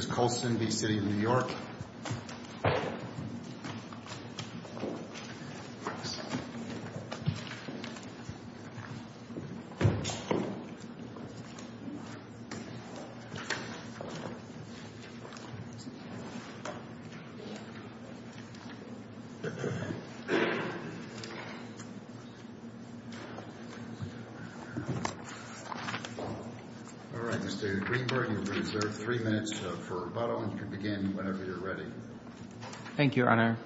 This is Colston v. City of New York. All right, Mr. Greenberg, you're reserved three minutes for rebuttal, and you can begin whenever you're ready. Thank you, Your Honor.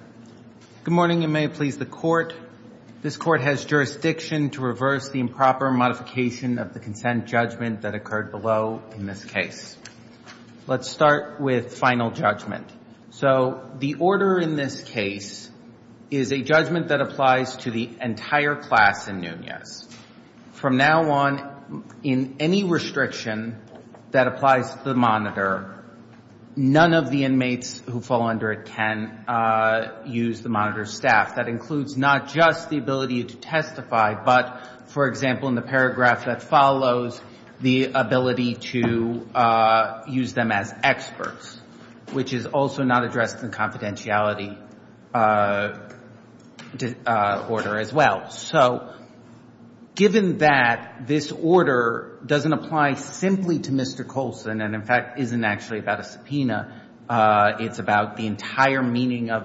Good morning, and may it please the Court. This Court has jurisdiction to reverse the improper modification of the consent judgment that occurred below in this case. Let's start with final judgment. So the order in this case is a judgment that applies to the entire class in Nunez. From now on, in any restriction that applies to the monitor, none of the inmates who fall under it can use the monitor's staff. That includes not just the ability to testify, but, for example, in the paragraph that follows, the ability to use them as experts, which is also not addressed in confidentiality order as well. So given that this order doesn't apply simply to Mr. Colston and, in fact, isn't actually about a subpoena, it's about the entire meaning of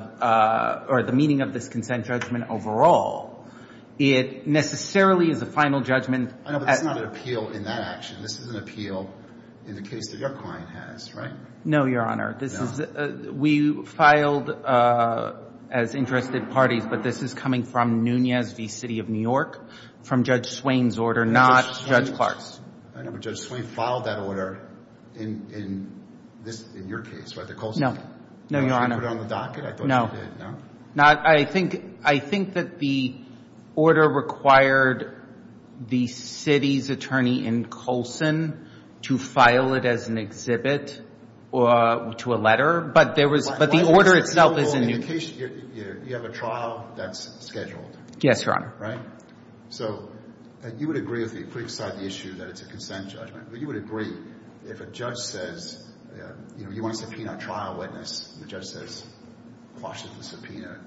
or the meaning of this consent judgment overall, it necessarily is a final judgment. I know, but it's not an appeal in that action. This is an appeal in the case that your client has, right? No, Your Honor. No. We filed as interested parties, but this is coming from Nunez v. City of New York, from Judge Swain's order, not Judge Clark's. I know, but Judge Swain filed that order in your case, right, the Colston case? No. No, Your Honor. He put it on the docket. I thought he did. No. No? I think that the order required the city's attorney in Colston to file it as an exhibit to a letter, but the order itself is in Nunez. You have a trial that's scheduled. Yes, Your Honor. Right? So you would agree with me, putting aside the issue that it's a consent judgment, but you would agree if a judge says, you know, you want to subpoena a trial witness, and the judge says, quash the subpoena,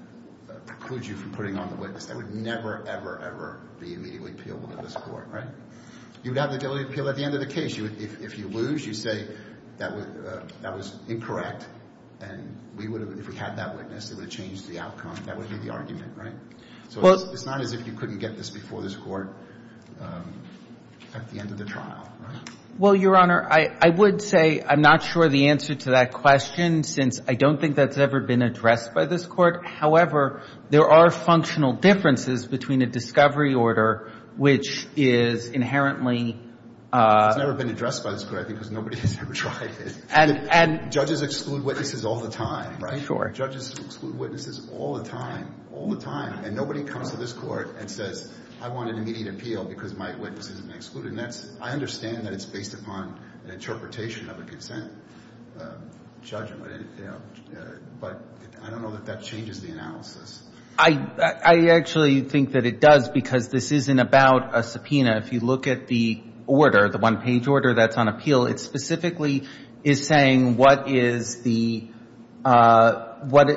precludes you from putting on the witness, that would never, ever, ever be immediately appealable to this Court, right? You would have the ability to appeal at the end of the case. If you lose, you say, that was a misjudgment. Well, Your Honor, I would say I'm not sure the answer to that question, since I don't think that's ever been addressed by this Court. However, there are functional differences between a discovery order, which is inherently It's never been addressed by this Court, I think, because nobody has ever tried it. And, and Judges exclude witnesses all the time, right? Sure. Judges exclude witnesses all the time, all the time. And nobody comes to this Court and says, I want an immediate appeal because my witness has been excluded. And that's, I understand that it's based upon an interpretation of a consent judgment, but I don't know that that changes the analysis. I, I actually think that it does, because this isn't about a subpoena. If you look at the order, the one-page order that's on appeal, it specifically is saying what is the, what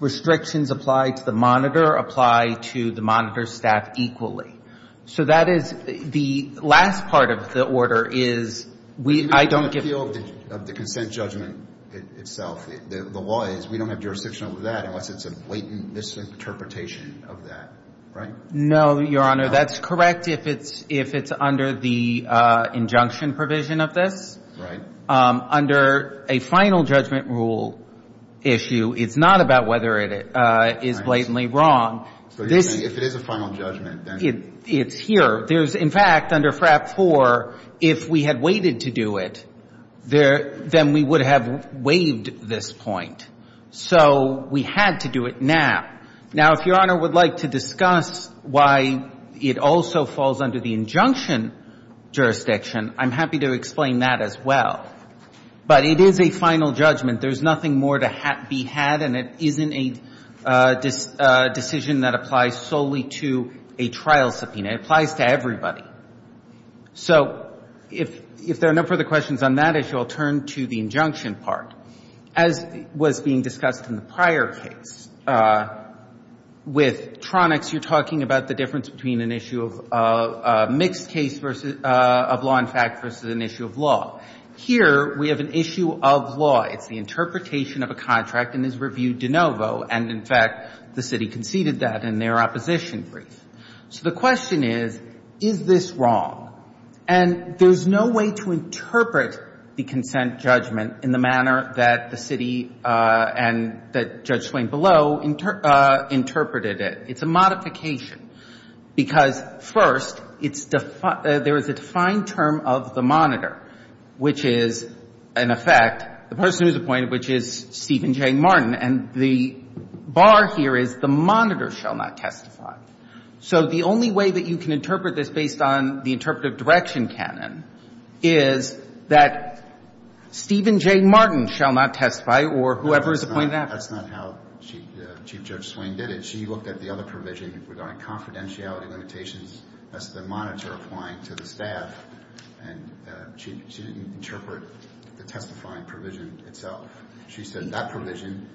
restrictions apply to the monitor, apply to the monitor's staff equally. So that is, the last part of the order is, we, I don't give The appeal of the consent judgment itself, the law is, we don't have jurisdiction over that unless it's a blatant misinterpretation of that, right? No, Your Honor. That's correct if it's, if it's under the injunction provision of this. Right. Under a final judgment rule issue, it's not about whether it is blatantly wrong. So you're saying if it is a final judgment, then It's here. There's, in fact, under FRAP 4, if we had waited to do it, there, then we would have waived this point. So we had to do it now. Now, if Your Honor would like to discuss why it also falls under the injunction jurisdiction, I'm happy to explain that as well. But it is a final judgment. There's nothing more to be had, and it isn't a decision that applies solely to a trial subpoena. It applies to everybody. So if there are no further questions on that issue, I'll turn to the injunction part. As was being discussed in the prior case, with Tronics, you're talking about the difference between an issue of mixed case versus, of law and fact versus an issue of law. Here, we have an issue of law. It's the interpretation of a contract and is reviewed de novo. And, in fact, the city conceded that in their opposition brief. So the question is, is this wrong? And there's no way to interpret the consent judgment in the manner that the city and that Judge Swain below interpreted it. It's a modification. Because, first, it's defined — there is a defined term of the monitor, which is, in effect, the person who's appointed, which is Stephen J. Martin. And the bar here is the monitor shall not testify. So the only way that you can interpret this based on the interpretive direction canon is that Stephen J. Martin shall not testify or whoever is appointed after. That's not how Chief Judge Swain did it. She looked at the other provision regarding confidentiality limitations as the monitor applying to the staff, and she didn't interpret the testifying provision itself. She said that provision,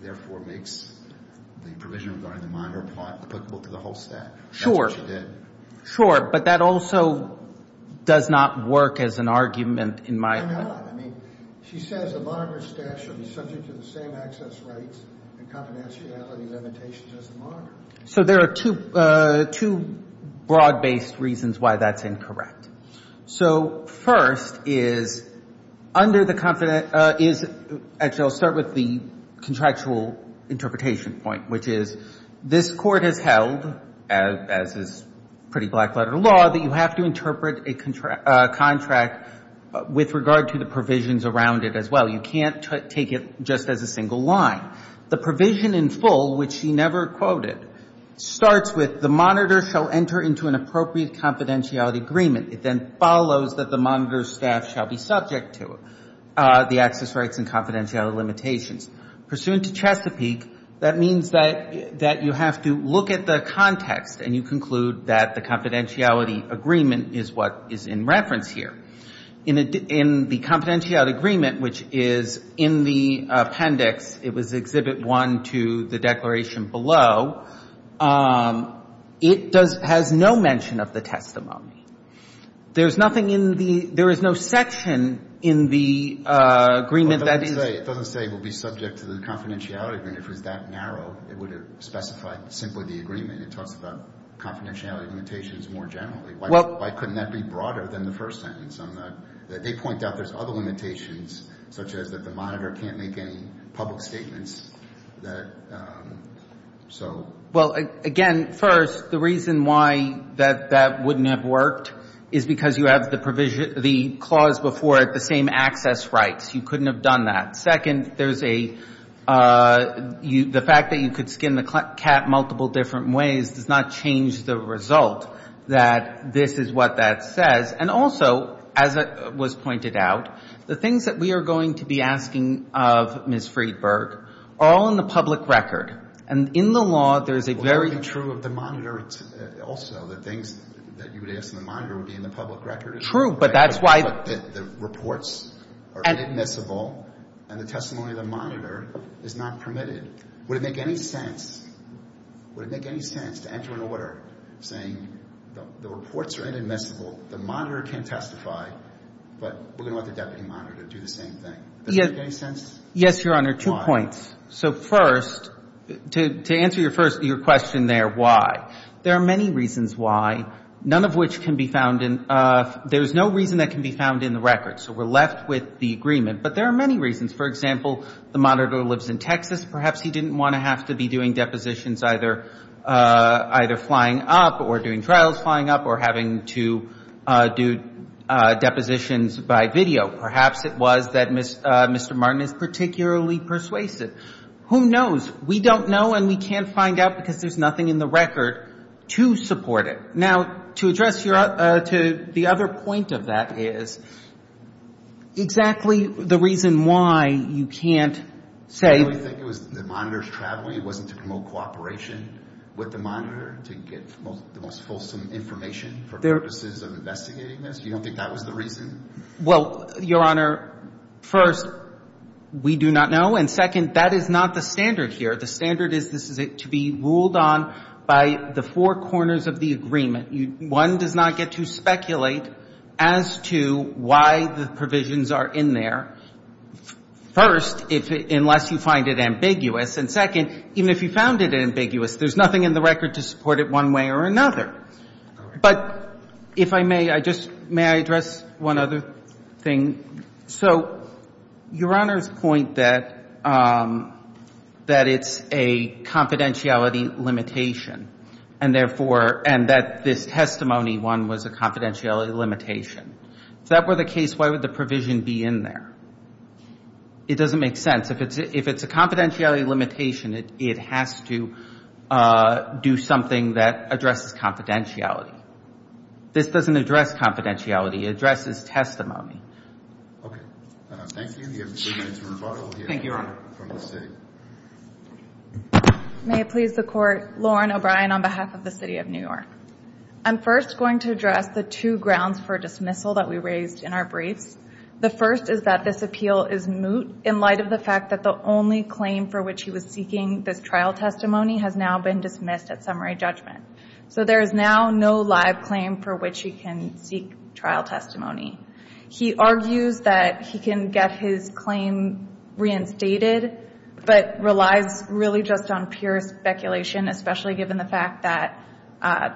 therefore, makes the provision regarding the monitor applicable to the whole staff. That's what she did. But that also does not work as an argument, in my opinion. It does not. I mean, she says the monitor staff should be subject to the same access rights and confidentiality limitations as the monitor. So there are two broad-based reasons why that's incorrect. So first is, under the confidentiality — actually, I'll start with the contractual interpretation point, which is, this Court has held, as is pretty black-letter law, that you have to interpret a contract with regard to the provisions around it as well. You can't take it just as a single line. The provision in full, which she never quoted, starts with, the monitor shall enter into an appropriate confidentiality agreement. It then follows that the monitor staff shall be subject to the access rights and confidentiality limitations. Pursuant to Chesapeake, that means that you have to look at the context, and you conclude that the confidentiality agreement is what is in reference here. In the confidentiality agreement, which is in the appendix — it was Exhibit 1 to the declaration below — it does — has no mention of the testimony. There's nothing in the — there is no section in the agreement that is — It doesn't say it will be subject to the confidentiality agreement. If it was that narrow, it would have specified simply the agreement. It talks about confidentiality limitations more generally. Why couldn't that be broader than the first sentence? They point out there's other limitations, such as that the monitor can't make any public statements that — so — Well, again, first, the reason why that wouldn't have worked is because you have the provision — the clause before it, the same access rights. You couldn't have done that. Second, there's a — the fact that you could skin the cat multiple different ways does not change the result that this is what that says. And also, as was pointed out, the things that we are going to be asking of Ms. Friedberg are all in the public record. And in the law, there's a very — Well, that would be true of the monitor also. The things that you would ask of the monitor would be in the public record. True, but that's why — The reports are inadmissible, and the testimony of the monitor is not permitted. Would it make any sense — would it make any sense to enter an order saying the reports are inadmissible, the monitor can testify, but we're going to let the deputy monitor do the same thing? Does that make any sense? Yes, Your Honor, two points. So first, to answer your first — your question there, why, there are many reasons why, none of which can be found in — there's no reason that can be found in the record, so we're left with the agreement. But there are many reasons. For example, the monitor lives in Texas. Perhaps he didn't want to have to be doing depositions either flying up or doing trials flying up or having to do depositions by video. Perhaps it was that Mr. Martin is particularly persuasive. Who knows? We don't know and we can't find out because there's nothing in the record to support it. Now, to address your — to the other point of that is, exactly the reason why you can't say — You really think it was the monitor's traveling, it wasn't to promote cooperation with the monitor to get the most fulsome information for purposes of investigating this? You don't think that was the reason? Well, Your Honor, first, we do not know. And second, that is not the standard here. The standard is this is to be ruled on by the four corners of the agreement. One does not get to speculate as to why the provisions are in there, first, unless you find it ambiguous. And second, even if you found it ambiguous, there's nothing in the record to support it one way or another. But if I may, I just — may I address one other thing? So Your Honor's point that it's a confidentiality limitation and therefore — and that this testimony, one, was a confidentiality limitation. If that were the case, why would the provision be in there? It doesn't make sense. If it's a confidentiality limitation, it has to do something that addresses confidentiality. This doesn't address confidentiality. It addresses testimony. Okay. Thank you. We have three minutes of rebuttal here. Thank you, Your Honor. From the State. May it please the Court, Lauren O'Brien on behalf of the City of New York. I'm first going to address the two grounds for dismissal that we raised in our briefs. The first is that this appeal is moot in light of the fact that the only claim for which he was seeking this trial testimony has now been dismissed at summary judgment. So there is now no live claim for which he can seek trial testimony. He argues that he can get his claim reinstated, but relies really just on pure speculation, especially given the fact that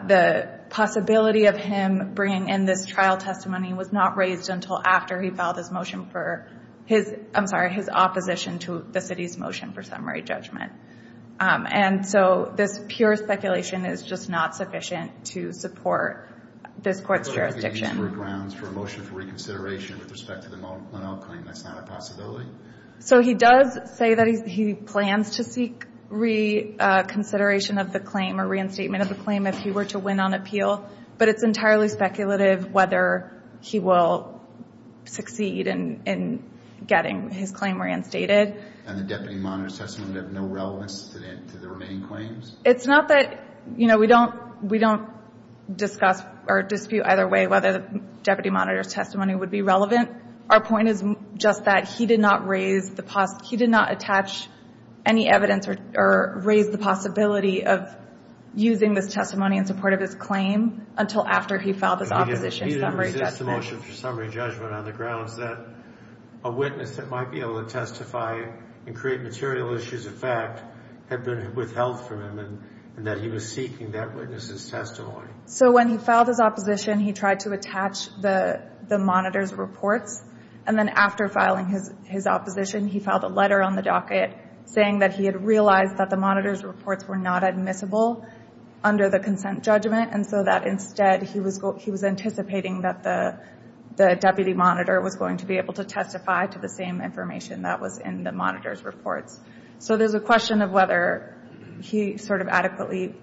the possibility of him bringing in this motion for his – I'm sorry, his opposition to the City's motion for summary judgment. And so this pure speculation is just not sufficient to support this Court's jurisdiction. So if he uses those grounds for a motion for reconsideration with respect to the Monell claim, that's not a possibility? So he does say that he plans to seek reconsideration of the claim or reinstatement of the claim if he were to win on appeal, but it's entirely speculative whether he will succeed in getting his claim reinstated. And the deputy monitor's testimony would have no relevance to the remaining claims? It's not that – you know, we don't discuss or dispute either way whether the deputy monitor's testimony would be relevant. Our point is just that he did not raise the – he did not attach any evidence or raise the possibility of using this testimony in support of his claim until after he filed his opposition to summary judgment. Because he didn't resist the motion for summary judgment on the grounds that a witness that might be able to testify and create material issues of fact had been withheld from him and that he was seeking that witness's testimony. So when he filed his opposition, he tried to attach the monitor's reports. And then after filing his opposition, he filed a letter on the docket saying that he had realized that the monitor's reports were not admissible under the statute. He was anticipating that the deputy monitor was going to be able to testify to the same information that was in the monitor's reports. So there's a question of whether he sort of adequately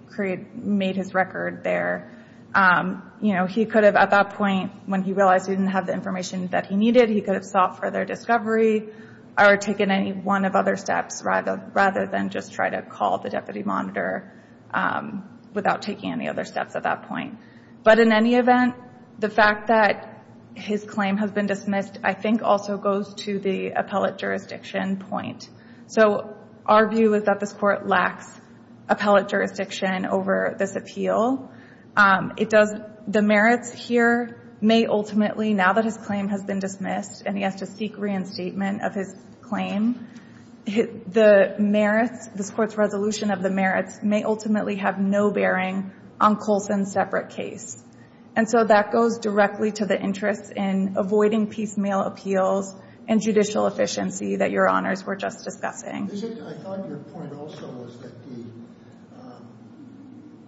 made his record there. You know, he could have at that point, when he realized he didn't have the information that he needed, he could have sought further discovery or taken any one of other steps rather than just try to call the deputy monitor without taking any other steps at that point. But in any event, the fact that his claim has been dismissed, I think, also goes to the appellate jurisdiction point. So our view is that this Court lacks appellate jurisdiction over this appeal. It does the merits here may ultimately, now that his claim has been dismissed and he has to seek reinstatement of his claim, the merits, this Court's resolution of the merits, may ultimately have no bearing on Coulson's separate case. And so that goes directly to the interest in avoiding piecemeal appeals and judicial efficiency that Your Honors were just discussing. I thought your point also was that the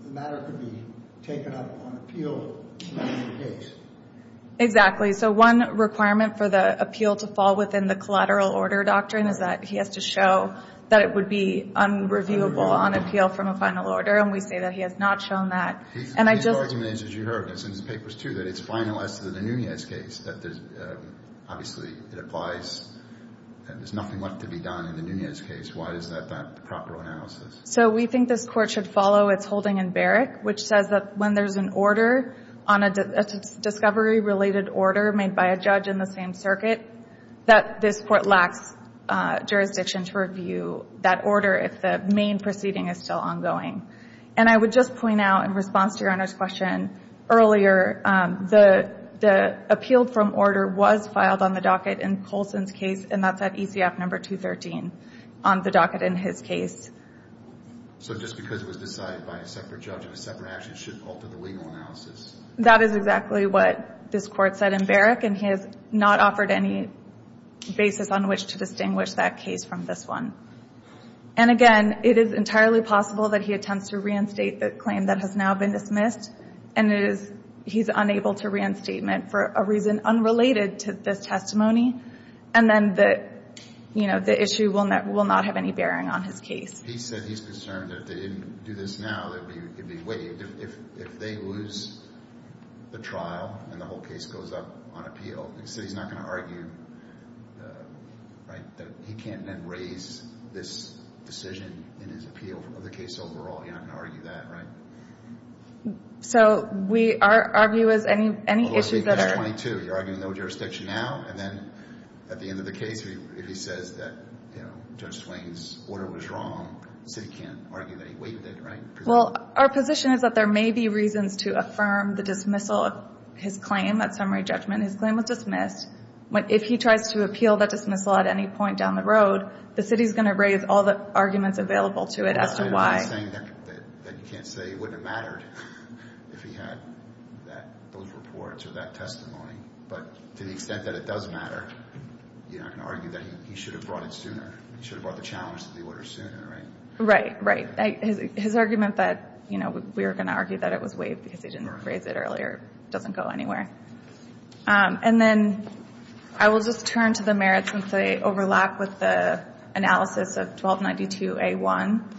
matter could be taken up on appeal in another case. Exactly. So one requirement for the appeal to fall within the collateral order doctrine is that he has to show that it would be unreviewable on appeal from a final order. And we say that he has not shown that. His argument is, as you heard, and it's in his papers, too, that it's finalized in the Nunez case. Obviously, it applies. There's nothing left to be done in the Nunez case. Why is that not the proper analysis? So we think this Court should follow its holding in Barrick, which says that when there's an order on a discovery-related order made by a judge in the same circuit, that this Court lacks jurisdiction to review that order if the main proceeding is still ongoing. And I would just point out in response to Your Honor's question earlier, the appeal from order was filed on the docket in Coulson's case, and that's at ECF number 213 on the docket in his case. So just because it was decided by a separate judge in a separate action shouldn't alter the legal analysis? That is exactly what this Court said in Barrick, and he has not offered any basis on which to distinguish that case from this one. And again, it is entirely possible that he attempts to reinstate the claim that has now been dismissed, and he's unable to reinstatement for a reason unrelated to this testimony, and then the issue will not have any bearing on his case. He said he's concerned that if they didn't do this now, it would be waived. If they lose the trial and the whole case goes up on appeal, he said he's not going to argue that he can't then raise this decision in his appeal of the case overall. He's not going to argue that, right? So our view is any issues that are— Although I believe it's 22. You're arguing no jurisdiction now, and then at the end of the case, if he says that Judge Swain's order was wrong, the city can't argue that he waived it, right? Well, our position is that there may be reasons to affirm the dismissal of his claim at summary judgment. His claim was dismissed. If he tries to appeal that dismissal at any point down the road, the city's going to raise all the arguments available to it as to why. I'm not saying that you can't say it wouldn't have mattered if he had those reports or that testimony, but to the extent that it does matter, you're not going to argue that he should have brought it sooner. He should have brought the challenge to the order sooner, right? Right, right. His argument that we were going to argue that it was waived because he didn't raise it earlier doesn't go anywhere. And then I will just turn to the merits since they overlap with the analysis of 1292A1.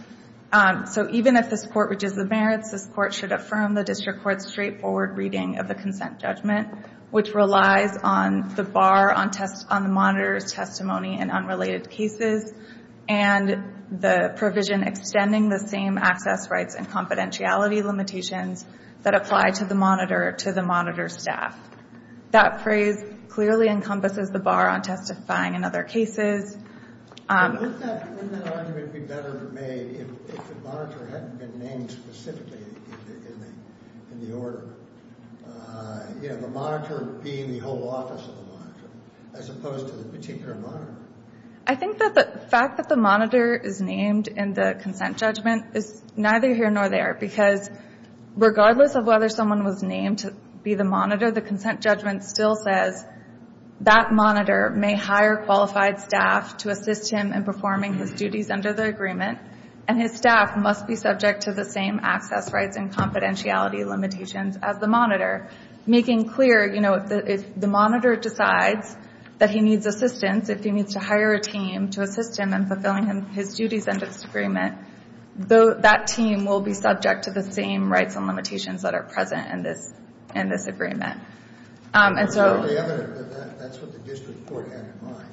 So even if this Court reaches the merits, this Court should affirm the district court's straightforward reading of the consent judgment, which relies on the bar on the monitor's testimony in unrelated cases and the provision extending the same access rights and confidentiality limitations that apply to the monitor to the monitor staff. That phrase clearly encompasses the bar on testifying in other cases. Wouldn't that argument be better made if the monitor hadn't been named specifically in the order? You know, the monitor being the whole office of the monitor as opposed to the particular monitor. I think that the fact that the monitor is named in the consent judgment is neither here nor there because regardless of whether someone was named to be the monitor, the consent judgment still says that monitor may hire qualified staff to assist him in performing his duties under the agreement, and his staff must be subject to the same access rights and confidentiality limitations as the monitor, making clear, you know, if the monitor decides that he needs assistance, if he needs to hire a team to assist him in fulfilling his duties under this agreement, that team will be subject to the same rights and limitations that are present in this agreement. It's clearly evident that that's what the district court had in mind,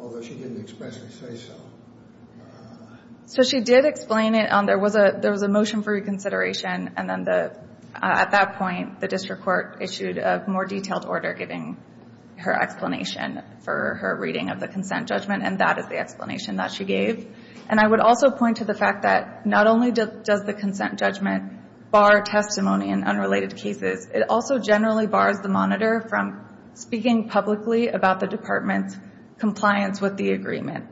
although she didn't expressly say so. So she did explain it. There was a motion for reconsideration, and then at that point the district court issued a more detailed order giving her explanation for her reading of the consent judgment, and that is the explanation that she gave. And I would also point to the fact that not only does the consent judgment bar testimony in unrelated cases, it also generally bars the monitor from speaking publicly about the department's compliance with the agreement.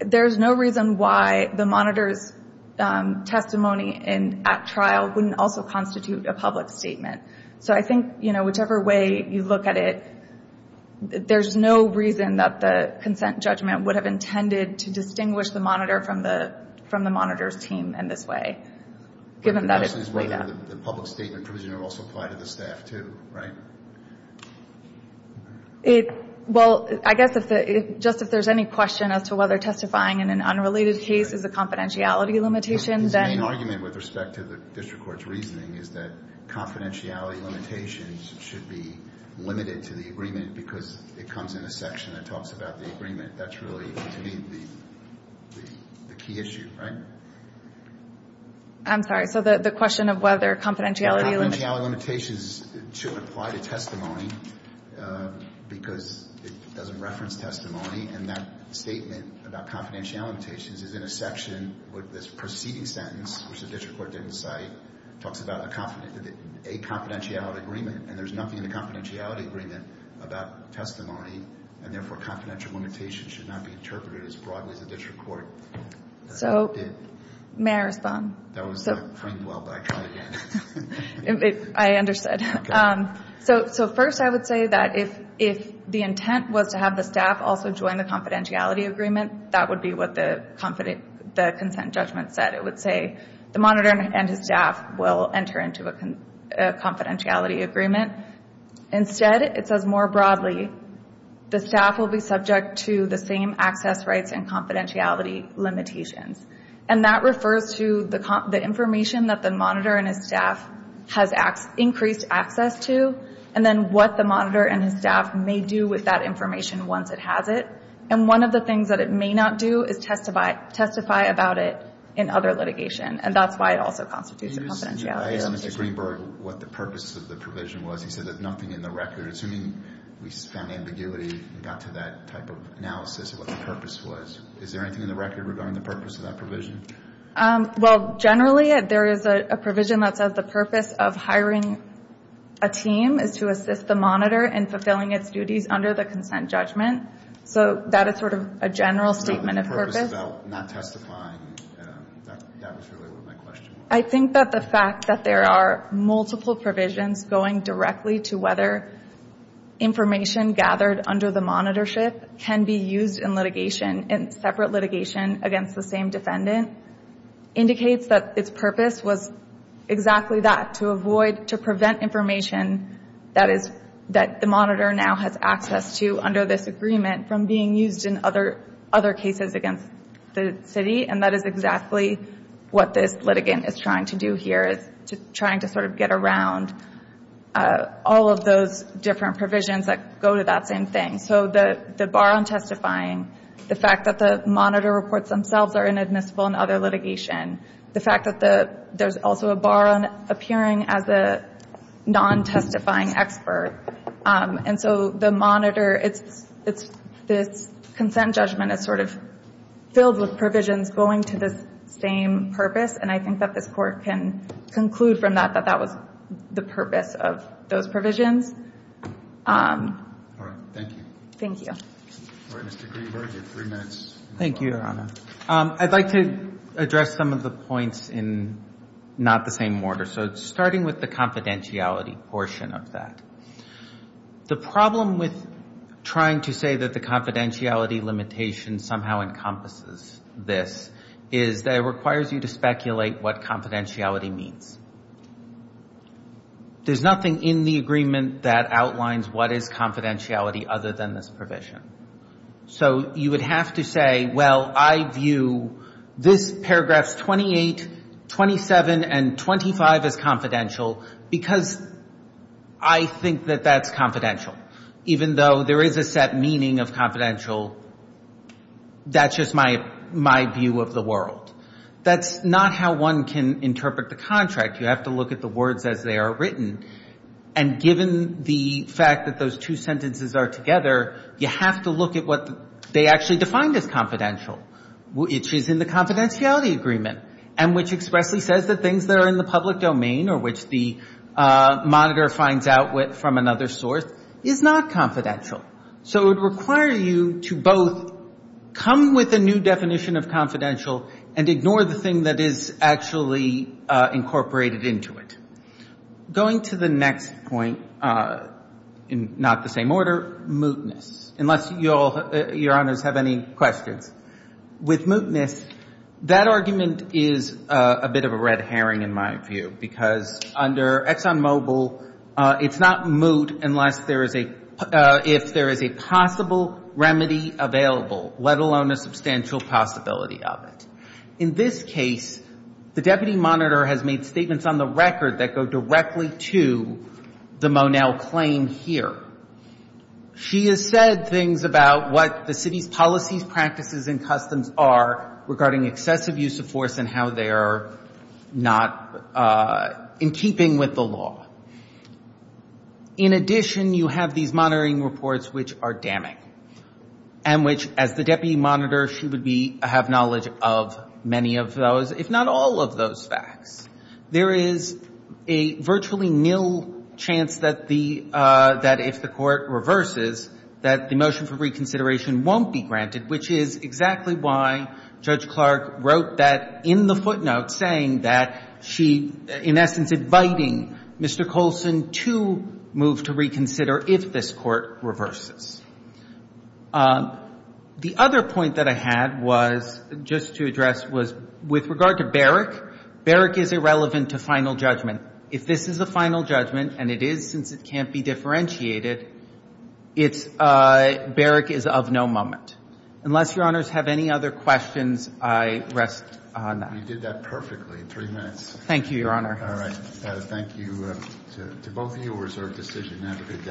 There's no reason why the monitor's testimony at trial wouldn't also constitute a public statement. So I think, you know, whichever way you look at it, there's no reason that the consent judgment would have intended to distinguish the monitor from the monitor's team in this way, given that it's laid out. The question is whether the public statement provision would also apply to the staff too, right? Well, I guess just if there's any question as to whether testifying in an unrelated case is a confidentiality limitation, then. His main argument with respect to the district court's reasoning is that confidentiality limitations should be limited to the agreement because it comes in a section that talks about the agreement. That's really, to me, the key issue, right? I'm sorry. So the question of whether confidentiality limitations. Confidentiality limitations should apply to testimony because it doesn't reference testimony. And that statement about confidentiality limitations is in a section with this preceding sentence, which the district court didn't cite, talks about a confidentiality agreement. And there's nothing in the confidentiality agreement about testimony. And therefore, confidentiality limitations should not be interpreted as broadly as the district court did. So may I respond? That was the friend well backed out again. I understood. So first I would say that if the intent was to have the staff also join the confidentiality agreement, that would be what the consent judgment said. It would say the monitor and his staff will enter into a confidentiality agreement. Instead, it says more broadly, the staff will be subject to the same access rights and confidentiality limitations. And that refers to the information that the monitor and his staff has increased access to and then what the monitor and his staff may do with that information once it has it. And one of the things that it may not do is testify about it in other litigation. And that's why it also constitutes a confidentiality limitation. I asked Mr. Greenberg what the purpose of the provision was. He said there's nothing in the record. Assuming we found ambiguity and got to that type of analysis of what the purpose was, is there anything in the record regarding the purpose of that provision? Well, generally there is a provision that says the purpose of hiring a team is to assist the monitor in fulfilling its duties under the consent judgment. So that is sort of a general statement of purpose. Not testifying. That was really my question. I think that the fact that there are multiple provisions going directly to whether information gathered under the monitorship can be used in litigation, in separate litigation against the same defendant, indicates that its purpose was exactly that, to avoid, to prevent information that the monitor now has access to under this agreement from being used in other cases against the city. And that is exactly what this litigant is trying to do here, is trying to sort of get around all of those different provisions that go to that same thing. So the bar on testifying, the fact that the monitor reports themselves are inadmissible in other litigation, the fact that there's also a bar on appearing as a non-testifying expert. And so the monitor, its consent judgment is sort of filled with provisions going to this same purpose, and I think that this Court can conclude from that that that was the purpose of those provisions. All right. Thank you. Thank you. All right. Mr. Greenberg, you have three minutes. Thank you, Your Honor. I'd like to address some of the points in not the same order. So starting with the confidentiality portion of that. The problem with trying to say that the confidentiality limitation somehow encompasses this is that it requires you to speculate what confidentiality means. There's nothing in the agreement that outlines what is confidentiality other than this provision. So you would have to say, well, I view this paragraphs 28, 27, and 25 as confidential because I think that that's confidential. Even though there is a set meaning of confidential, that's just my view of the world. That's not how one can interpret the contract. You have to look at the words as they are written. And given the fact that those two sentences are together, you have to look at what they actually defined as confidential, which is in the confidentiality agreement and which expressly says that things that are in the public domain or which the monitor finds out from another source is not confidential. So it would require you to both come with a new definition of confidential and ignore the thing that is actually incorporated into it. Going to the next point in not the same order, mootness, unless Your Honors have any questions. With mootness, that argument is a bit of a red herring in my view because under ExxonMobil, it's not moot unless there is a, if there is a possible remedy available, let alone a substantial possibility of it. In this case, the deputy monitor has made statements on the record that go directly to the Monell claim here. She has said things about what the city's policies, practices, and customs are regarding excessive use of force and how they are not in keeping with the law. In addition, you have these monitoring reports which are damning and which, as the deputy monitor, she would be, have knowledge of many of those, if not all of those facts. There is a virtually nil chance that the, that if the court reverses, that the motion for reconsideration won't be granted, which is exactly why Judge Clark wrote that in the footnote saying that she, in essence, inviting Mr. Colson to move to reconsider if this court reverses. The other point that I had was, just to address, was with regard to barrack, barrack is irrelevant to final judgment. If this is a final judgment, and it is since it can't be differentiated, it's, barrack is of no moment. Unless Your Honors have any other questions, I rest on that. You did that perfectly. Three minutes. Thank you, Your Honor. All right. Thank you to both of you.